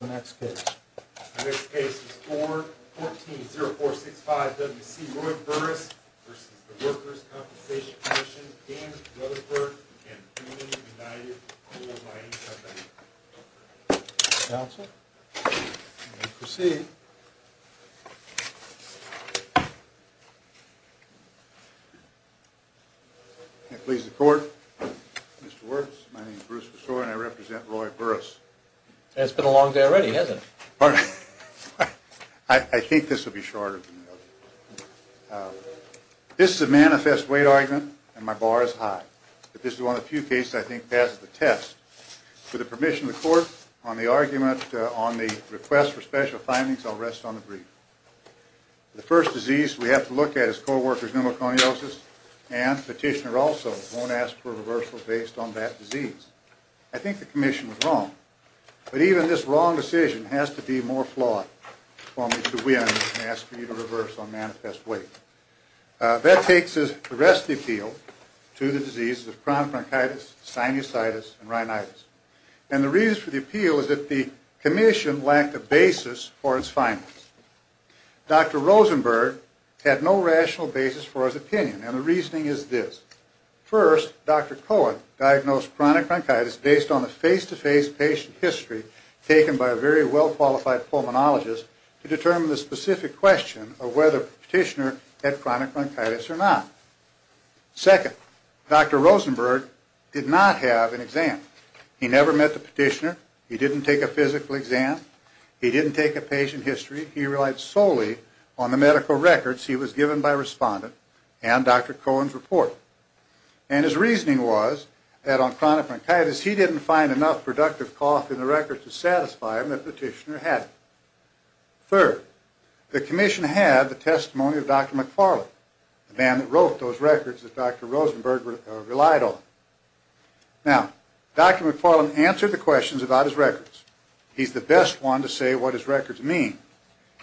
The next case is 414-0465-WC, Roy Burrus v. Workers' Compensation Comm'n, Dan Rutherford v. Boone & Dyer, Coal Mining Company. Counsel, you may proceed. May it please the Court, Mr. Wirtz, my name is Bruce Bresore and I represent Roy Burrus. And it's been a long day already, hasn't it? I think this will be shorter than the other. This is a manifest weight argument and my bar is high. But this is one of the few cases I think passes the test. With the permission of the Court, on the argument on the request for special findings, I'll rest on the brief. The first disease we have to look at is co-workers' pneumoconiosis and petitioner also won't ask for a reversal based on that disease. I think the Commission was wrong. But even this wrong decision has to be more flawed for me to win and ask for you to reverse on manifest weight. That takes the rest of the appeal to the diseases of chronic bronchitis, sinusitis, and rhinitis. And the reason for the appeal is that the Commission lacked a basis for its findings. Dr. Rosenberg had no rational basis for his opinion and the reasoning is this. First, Dr. Cohen diagnosed chronic bronchitis based on the face-to-face patient history taken by a very well-qualified pulmonologist to determine the specific question of whether the petitioner had chronic bronchitis or not. Second, Dr. Rosenberg did not have an exam. He never met the petitioner. He didn't take a physical exam. He didn't take a patient history. He relied solely on the medical records he was given by a respondent and Dr. Cohen's report. And his reasoning was that on chronic bronchitis he didn't find enough productive cough in the records to satisfy him that the petitioner had it. Third, the Commission had the testimony of Dr. McFarland, the man that wrote those records that Dr. Rosenberg relied on. Now, Dr. McFarland answered the questions about his records. He's the best one to say what his records mean.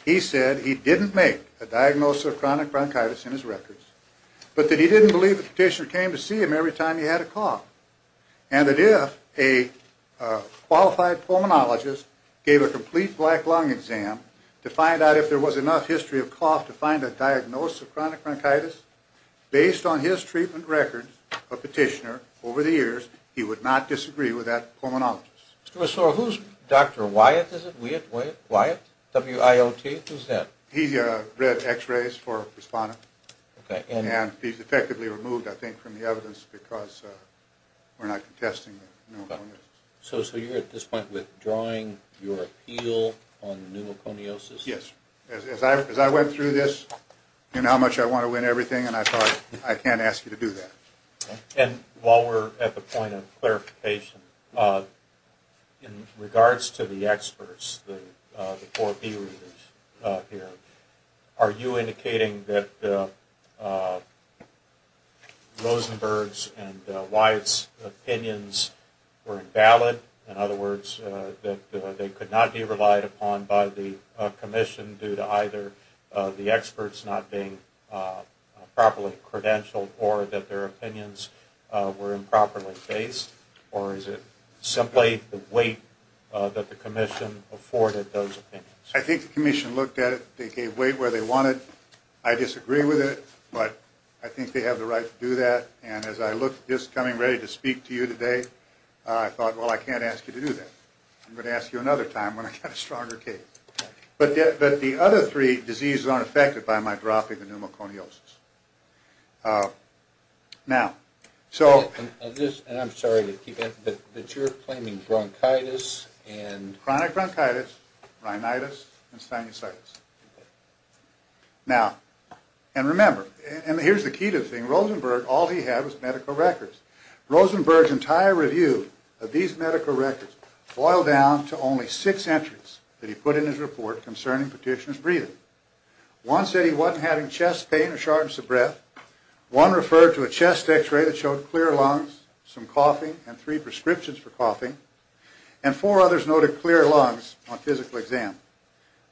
He said he didn't make a diagnosis of chronic bronchitis in his records, but that he didn't believe the petitioner came to see him every time he had a cough, and that if a qualified pulmonologist gave a complete black lung exam to find out if there was enough history of cough to find a diagnosis of chronic bronchitis, based on his treatment records of the petitioner over the years, he would not disagree with that pulmonologist. So who's Dr. Wyatt? Is it Wyatt? W-I-O-T? Who's that? He read x-rays for a respondent. And he's effectively removed, I think, from the evidence because we're not contesting the pneumoconiosis. So you're at this point withdrawing your appeal on the pneumoconiosis? Yes. As I went through this and how much I want to win everything, and I thought, I can't ask you to do that. And while we're at the point of clarification, in regards to the experts, the four B readers here, are you indicating that Rosenberg's and Wyatt's opinions were invalid? In other words, that they could not be relied upon by the commission due to either the experts not being properly credentialed or that their opinions were improperly based? Or is it simply the weight that the commission afforded those opinions? I think the commission looked at it. They gave weight where they wanted. I disagree with it, but I think they have the right to do that. And as I looked at this coming ready to speak to you today, I thought, well, I can't ask you to do that. I'm going to ask you another time when I get a stronger case. But the other three diseases aren't affected by my dropping the pneumoconiosis. Now, so... And I'm sorry to keep it, but you're claiming bronchitis and... Chronic bronchitis, rhinitis, and sinusitis. Now, and remember, and here's the key to the thing, Rosenberg, all he had was medical records. Rosenberg's entire review of these medical records boiled down to only six entries that he put in his report concerning petitioner's breathing. One said he wasn't having chest pain or shortness of breath. One referred to a chest X-ray that showed clear lungs, some coughing, and three prescriptions for coughing. And four others noted clear lungs on physical exam.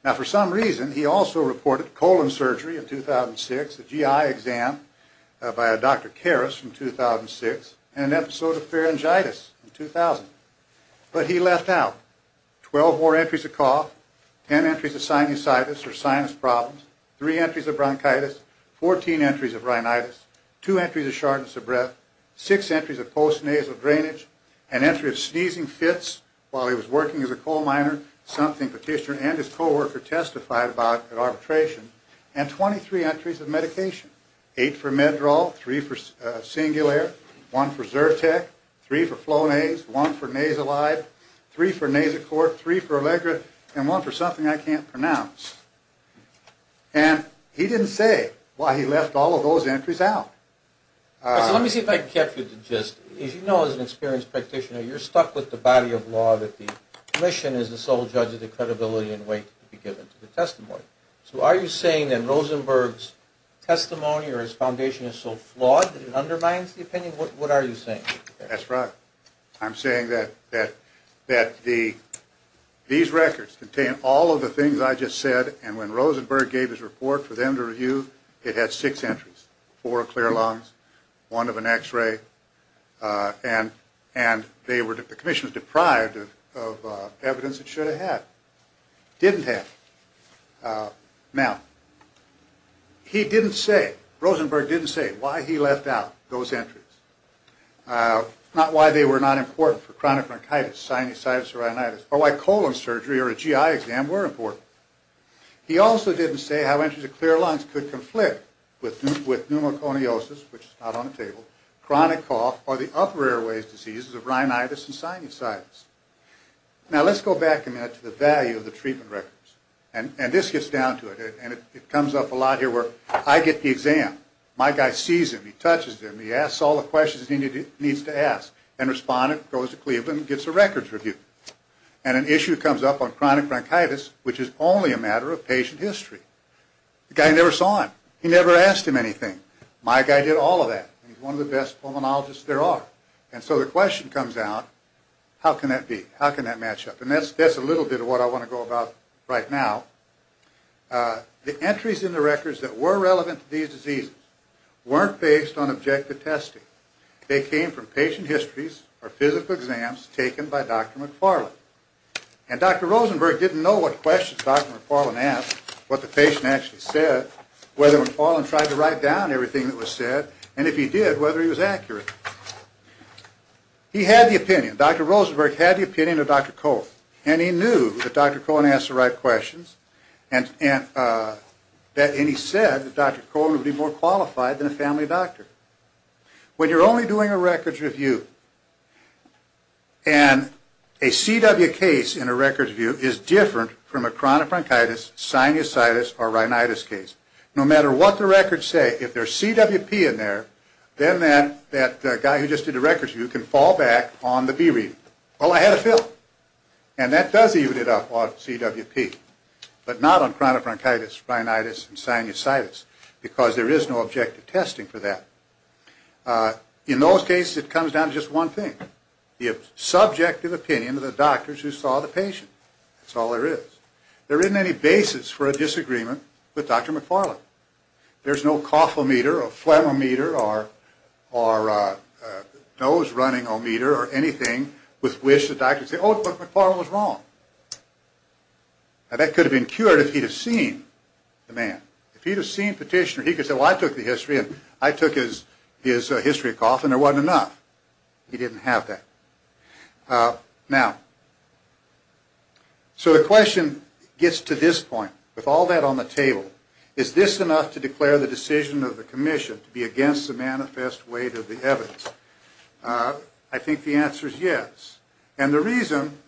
Now, for some reason, he also reported colon surgery in 2006, a GI exam by a Dr. Karas in 2006, and an episode of pharyngitis in 2000. But he left out 12 more entries of cough, 10 entries of sinusitis or sinus problems, three entries of bronchitis, 14 entries of rhinitis, two entries of shortness of breath, six entries of post-nasal drainage, an entry of sneezing fits while he was working as a coal miner, something petitioner and his co-worker testified about at arbitration, and 23 entries of medication, eight for Meddral, three for Singulaire, one for Zyrtec, three for Flonase, one for Nasalide, three for Nasacort, three for Allegra, and one for something I can't pronounce. And he didn't say why he left all of those entries out. Let me see if I can catch you. As you know, as an experienced practitioner, you're stuck with the body of law that the commission is the sole judge of the credibility and weight to be given to the testimony. So are you saying that Rosenberg's testimony or his foundation is so flawed that it undermines the opinion? What are you saying? That's right. I'm saying that these records contain all of the things I just said, and when Rosenberg gave his report for them to review, it had six entries, four clear lungs, one of an X-ray, and the commission was deprived of evidence it should have had, didn't have. Now, he didn't say, Rosenberg didn't say why he left out those entries. Not why they were not important for chronic bronchitis, sinusitis, or rhinitis, or why colon surgery or a GI exam were important. He also didn't say how entries of clear lungs could conflict with pneumoconiosis, which is not on the table, chronic cough, or the upper airways diseases of rhinitis and sinusitis. Now, let's go back a minute to the value of the treatment records, and this gets down to it, and it comes up a lot here where I get the exam, my guy sees him, he touches him, he asks all the questions he needs to ask, and the respondent goes to Cleveland and gets a records review. And an issue comes up on chronic bronchitis, which is only a matter of patient history. The guy never saw him. He never asked him anything. My guy did all of that, and he's one of the best pulmonologists there are. And so the question comes out, how can that be? How can that match up? And that's a little bit of what I want to go about right now. The entries in the records that were relevant to these diseases weren't based on objective testing. They came from patient histories or physical exams taken by Dr. McFarland. And Dr. Rosenberg didn't know what questions Dr. McFarland asked, what the patient actually said, whether McFarland tried to write down everything that was said, and if he did, whether he was accurate. He had the opinion. And Dr. Rosenberg had the opinion of Dr. Cohen. And he knew that Dr. Cohen asked the right questions, and he said that Dr. Cohen would be more qualified than a family doctor. When you're only doing a records review, and a CW case in a records review is different from a chronic bronchitis, sinusitis, or rhinitis case. No matter what the records say, if there's CWP in there, then that guy who just did a records review can fall back on the B reading. Well, I had a feeling. And that does even it up on CWP. But not on chronic bronchitis, rhinitis, and sinusitis, because there is no objective testing for that. In those cases, it comes down to just one thing. The subjective opinion of the doctors who saw the patient. That's all there is. There isn't any basis for a disagreement with Dr. McFarland. There's no cough-o-meter, or phlegm-o-meter, or nose-running-o-meter, or anything with which the doctor can say, oh, Dr. McFarland was wrong. Now, that could have been cured if he'd have seen the man. If he'd have seen Petitioner, he could have said, well, I took the history, and I took his history of cough, and there wasn't enough. He didn't have that. Now, so the question gets to this point. With all that on the table, is this enough to declare the decision of the commission to be against the manifest weight of the evidence? I think the answer is yes. And the reason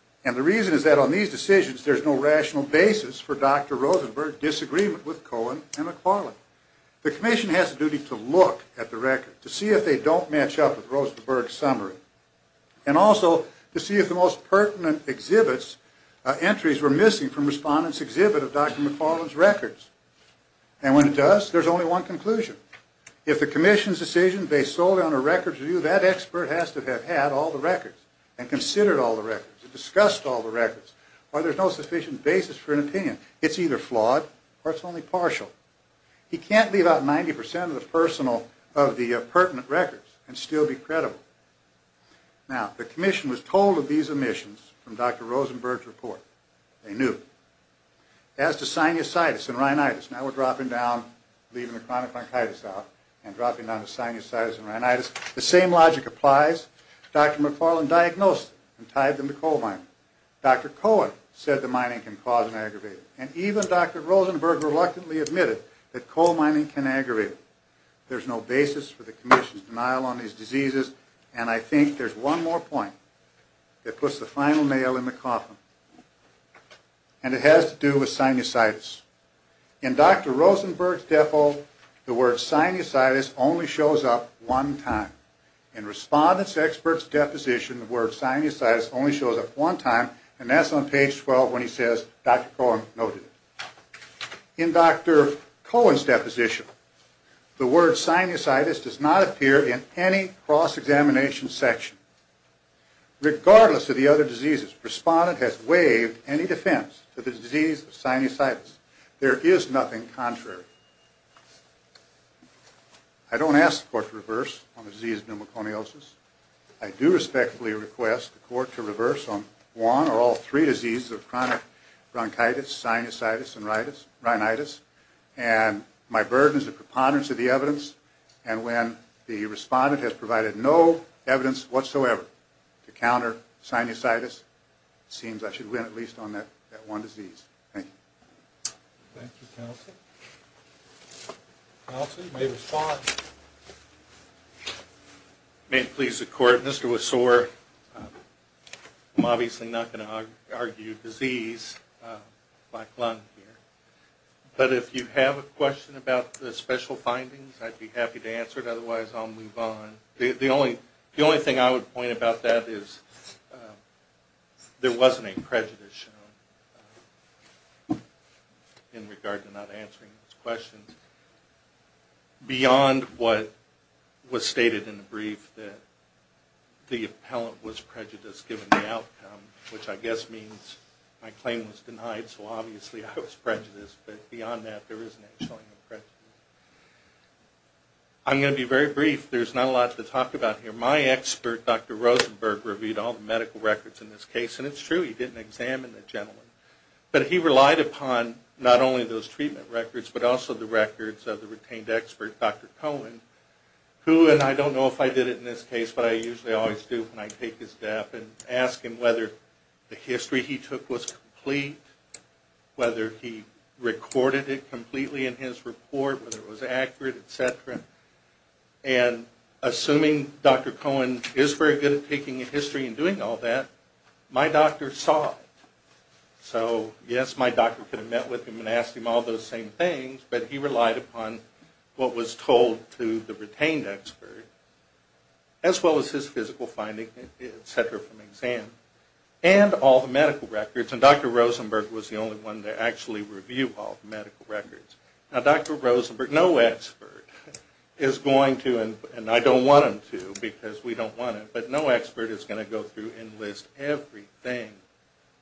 is that on these decisions, there's no rational basis for Dr. Rosenberg's disagreement with Cohen and McFarland. The commission has a duty to look at the record, to see if they don't match up with Rosenberg's summary, and also to see if the most pertinent entries were missing from respondents' exhibit of Dr. McFarland's records. And when it does, there's only one conclusion. If the commission's decision based solely on a records review, that expert has to have had all the records, and considered all the records, and discussed all the records, or there's no sufficient basis for an opinion. It's either flawed, or it's only partial. He can't leave out 90% of the personal, of the pertinent records, and still be credible. Now, the commission was told of these omissions from Dr. Rosenberg's report. They knew. As to sinusitis and rhinitis, now we're dropping down, leaving the chronic bronchitis out, and dropping down to sinusitis and rhinitis, the same logic applies. Dr. McFarland diagnosed them, and tied them to coal mining. Dr. Cohen said the mining can cause an aggravation. And even Dr. Rosenberg reluctantly admitted that coal mining can aggravate it. There's no basis for the commission's denial on these diseases, and I think there's one more point that puts the final nail in the coffin. And it has to do with sinusitis. In Dr. Rosenberg's defo, the word sinusitis only shows up one time. In Respondent's expert's deposition, the word sinusitis only shows up one time, and that's on page 12 when he says, Dr. Cohen noted it. In Dr. Cohen's deposition, the word sinusitis does not appear in any cross-examination section. Regardless of the other diseases, Respondent has waived any defense for the disease of sinusitis. There is nothing contrary. I don't ask the court to reverse on the disease of pneumoconiosis. I do respectfully request the court to reverse on one or all three diseases of chronic bronchitis, sinusitis, and rhinitis. And my burden is a preponderance of the evidence, and when the Respondent has provided no evidence whatsoever to counter sinusitis, it seems I should win at least on that one disease. Thank you. Thank you, counsel. Counsel, you may respond. May it please the court, Mr. Wasore, I'm obviously not going to argue disease like lung here, but if you have a question about the special findings, I'd be happy to answer it. Otherwise, I'll move on. The only thing I would point about that is there wasn't a prejudice shown in regard to not answering those questions. Beyond what was stated in the brief that the appellant was prejudiced given the outcome, which I guess means my claim was denied, so obviously I was prejudiced, but beyond that, there isn't a prejudice. I'm going to be very brief. There's not a lot to talk about here. My expert, Dr. Rosenberg, reviewed all the medical records in this case, and it's true. He didn't examine the gentleman, but he relied upon not only those treatment records, but also the records of the retained expert, Dr. Cohen, who, and I don't know if I did it in this case, but I usually always do when I take his death and ask him whether the history he took was complete, whether he recorded it completely in his report, whether it was accurate, et cetera, and assuming Dr. Cohen is very good at taking a history and doing all that, my doctor saw it. So yes, my doctor could have met with him and asked him all those same things, but he relied upon what was told to the retained expert, as well as his physical findings, et cetera, from exam, and all the medical records, and Dr. Rosenberg was the only one to actually review all the medical records. Now, Dr. Rosenberg, no expert is going to, and I don't want him to because we don't want him, but no expert is going to go through and list everything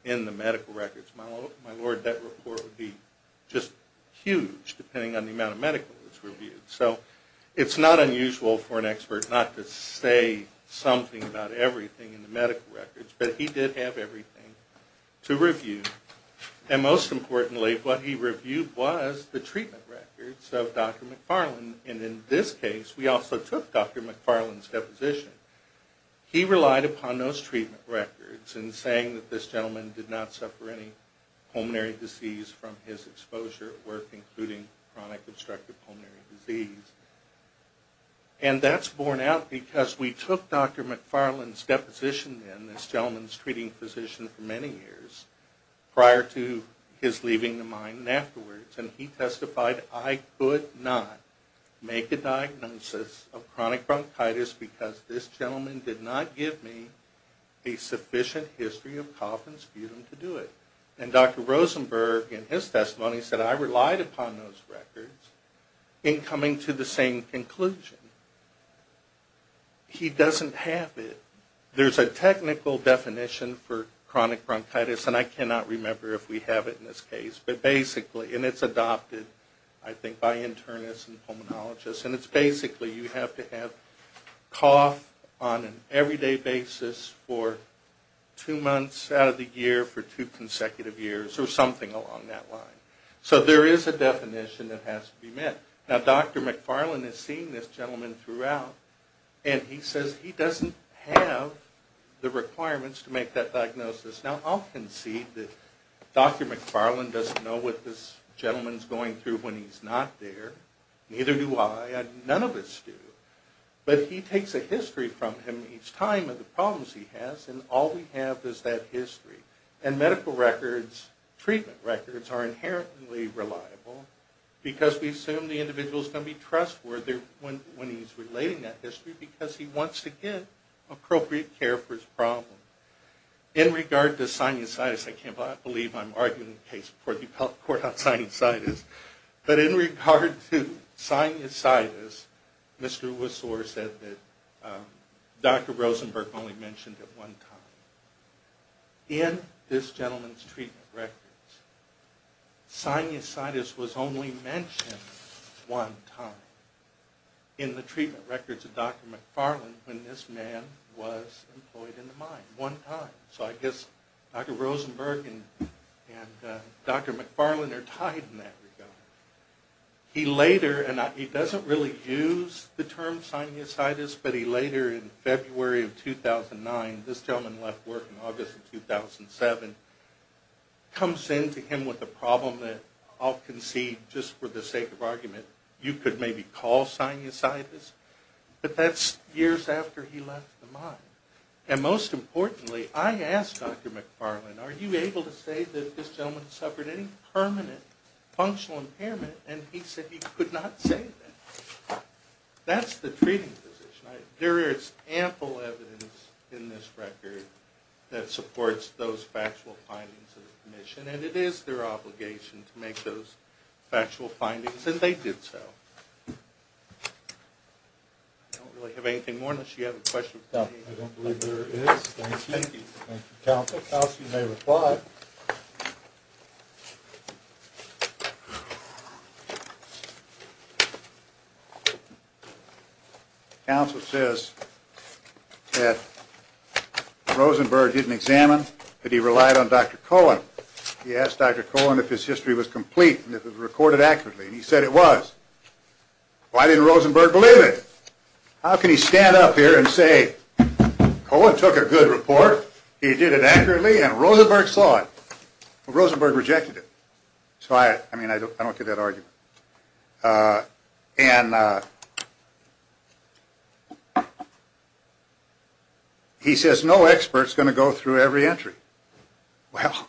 in the medical records. My lord, that report would be just huge, depending on the amount of medical that's reviewed. So it's not unusual for an expert not to say something about everything in the medical records, but he did have everything to review, and most importantly, what he reviewed was the treatment records of Dr. McFarland, and in this case, we also took Dr. McFarland's deposition. He relied upon those treatment records in saying that this gentleman did not suffer any pulmonary disease from his exposure at work, including chronic obstructive pulmonary disease, and that's borne out because we took Dr. McFarland's deposition in, this gentleman's treating physician for many years prior to his leaving the mine and afterwards, and he testified, I could not make a diagnosis of chronic bronchitis because this gentleman did not give me a sufficient history of cough and sputum to do it, and Dr. Rosenberg, in his testimony, said, I relied upon those records in coming to the same conclusion. He doesn't have it. There's a technical definition for chronic bronchitis, and I cannot remember if we have it in this case, but basically, and it's adopted, I think, by internists and pulmonologists, and it's basically you have to have cough on an everyday basis for two months out of the year, for two consecutive years, or something along that line. So there is a definition that has to be met. Now, Dr. McFarland has seen this gentleman throughout, and he says he doesn't have the requirements to make that diagnosis. Now, I'll concede that Dr. McFarland doesn't know what this gentleman's going through when he's not there. Neither do I. None of us do. But he takes a history from him each time of the problems he has, and all we have is that history. And medical records, treatment records, are inherently reliable because we assume the individual is going to be trustworthy when he's relating that history because he wants to get appropriate care for his problem. In regard to sinusitis, I can't believe I'm arguing the case before the court on sinusitis, but in regard to sinusitis, Mr. Wessor said that Dr. Rosenberg only mentioned it one time. In this gentleman's treatment records, sinusitis was only mentioned one time in the treatment records of Dr. McFarland when this man was employed in the mine one time. So I guess Dr. Rosenberg and Dr. McFarland are tied in that regard. He later, and he doesn't really use the term sinusitis, but he later in February of 2009, this gentleman left work in August of 2007, comes in to him with a problem that I'll concede, just for the sake of argument, you could maybe call sinusitis, but that's years after he left the mine. And most importantly, I asked Dr. McFarland, are you able to say that this gentleman suffered any permanent functional impairment, and he said he could not say that. That's the treating physician. There is ample evidence in this record that supports those factual findings of the commission, and it is their obligation to make those factual findings, and they did so. I don't really have anything more unless you have a question. No, I don't believe there is. Thank you. Thank you, Counsel. Counsel, you may reply. Counsel says that Rosenberg didn't examine, that he relied on Dr. Cohen. He asked Dr. Cohen if his history was complete and if it was recorded accurately, and he said it was. Why didn't Rosenberg believe it? How can he stand up here and say, Cohen took a good report, he did it accurately, and Rosenberg saw it? Well, Rosenberg rejected it. So, I mean, I don't get that argument. And he says no expert is going to go through every entry. Well,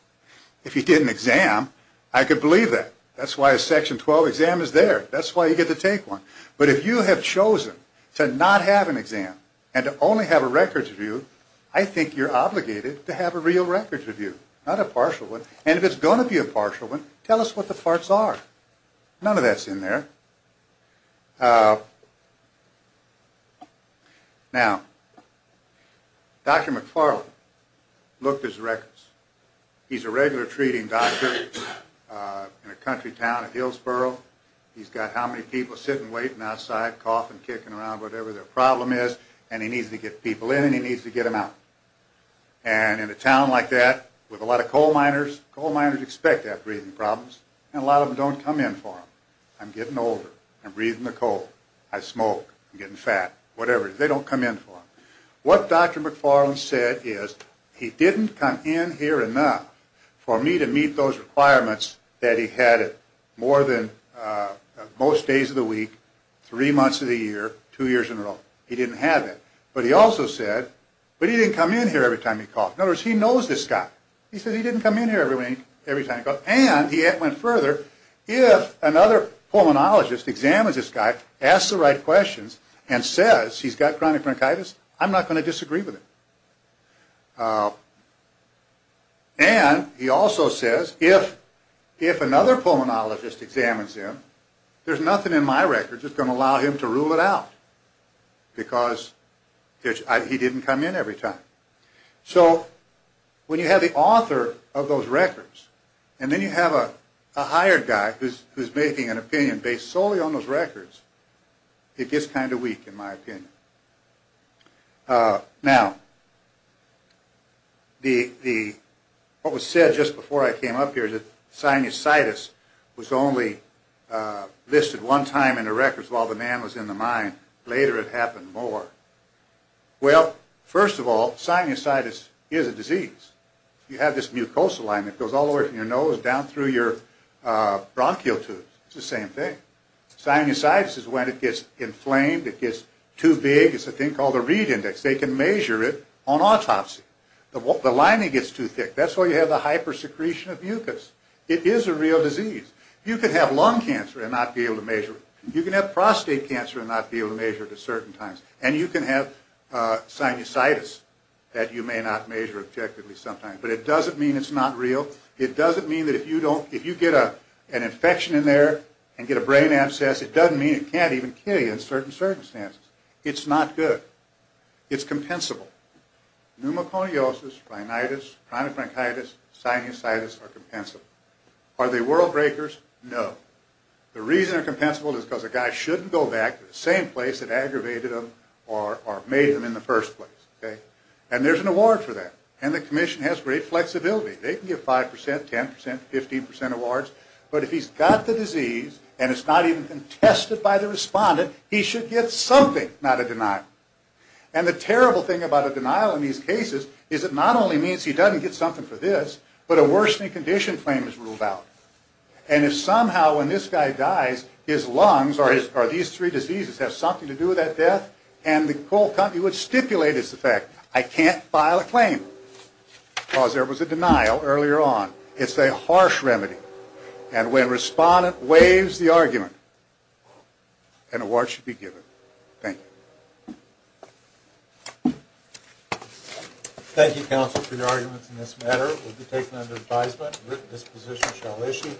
if he did an exam, I could believe that. That's why a Section 12 exam is there. That's why you get to take one. But if you have chosen to not have an exam and to only have a records review, I think you're obligated to have a real records review, not a partial one. And if it's going to be a partial one, tell us what the parts are. None of that's in there. Now, Dr. McFarland looked at his records. He's a regular treating doctor in a country town of Hillsboro. He's got how many people sitting, waiting outside, coughing, kicking around, whatever their problem is, and he needs to get people in and he needs to get them out. And in a town like that, with a lot of coal miners, coal miners expect to have breathing problems, and a lot of them don't come in for them. I'm getting older. I'm breathing the coal. I smoke. I'm getting fat. Whatever it is, they don't come in for them. What Dr. McFarland said is he didn't come in here enough for me to meet those requirements that he had more than most days of the week, three months of the year, two years in a row. He didn't have that. But he also said, but he didn't come in here every time he coughed. In other words, he knows this guy. He said he didn't come in here every time he coughed, and he went further, if another pulmonologist examines this guy, asks the right questions, and says he's got chronic bronchitis, I'm not going to disagree with him. And he also says if another pulmonologist examines him, there's nothing in my record that's going to allow him to rule it out because he didn't come in every time. So when you have the author of those records, and then you have a hired guy who's making an opinion based solely on those records, it gets kind of weak, in my opinion. Now, what was said just before I came up here is that sinusitis was only listed one time in the records while the man was in the mine. Later, it happened more. Well, first of all, sinusitis is a disease. You have this mucosal line that goes all the way from your nose down through your bronchial tubes. It's the same thing. Sinusitis is when it gets inflamed, it gets too big. It's a thing called a reed index. They can measure it on autopsy. The lining gets too thick. That's why you have the hypersecretion of mucus. It is a real disease. You can have lung cancer and not be able to measure it. You can have prostate cancer and not be able to measure it at certain times. And you can have sinusitis that you may not measure objectively sometimes. But it doesn't mean it's not real. It doesn't mean that if you get an infection in there and get a brain abscess, it doesn't mean it can't even kill you in certain circumstances. It's not good. It's compensable. Pneumoconiosis, rhinitis, chronic bronchitis, sinusitis are compensable. Are they world breakers? No. The reason they're compensable is because a guy shouldn't go back to the same place that aggravated him or made him in the first place. And there's an award for that. And the commission has great flexibility. They can give 5%, 10%, 15% awards. But if he's got the disease and it's not even contested by the respondent, he should get something, not a denial. And the terrible thing about a denial in these cases is it not only means he doesn't get something for this, but a worsening condition claim is ruled out. And if somehow when this guy dies his lungs or these three diseases have something to do with that death and the coal company would stipulate as a fact, I can't file a claim because there was a denial earlier on. It's a harsh remedy. And when respondent waives the argument, an award should be given. Thank you. Thank you, counsel, for your arguments in this matter. It will be taken under advisement. This position shall issue.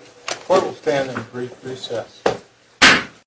Court will stand in brief recess.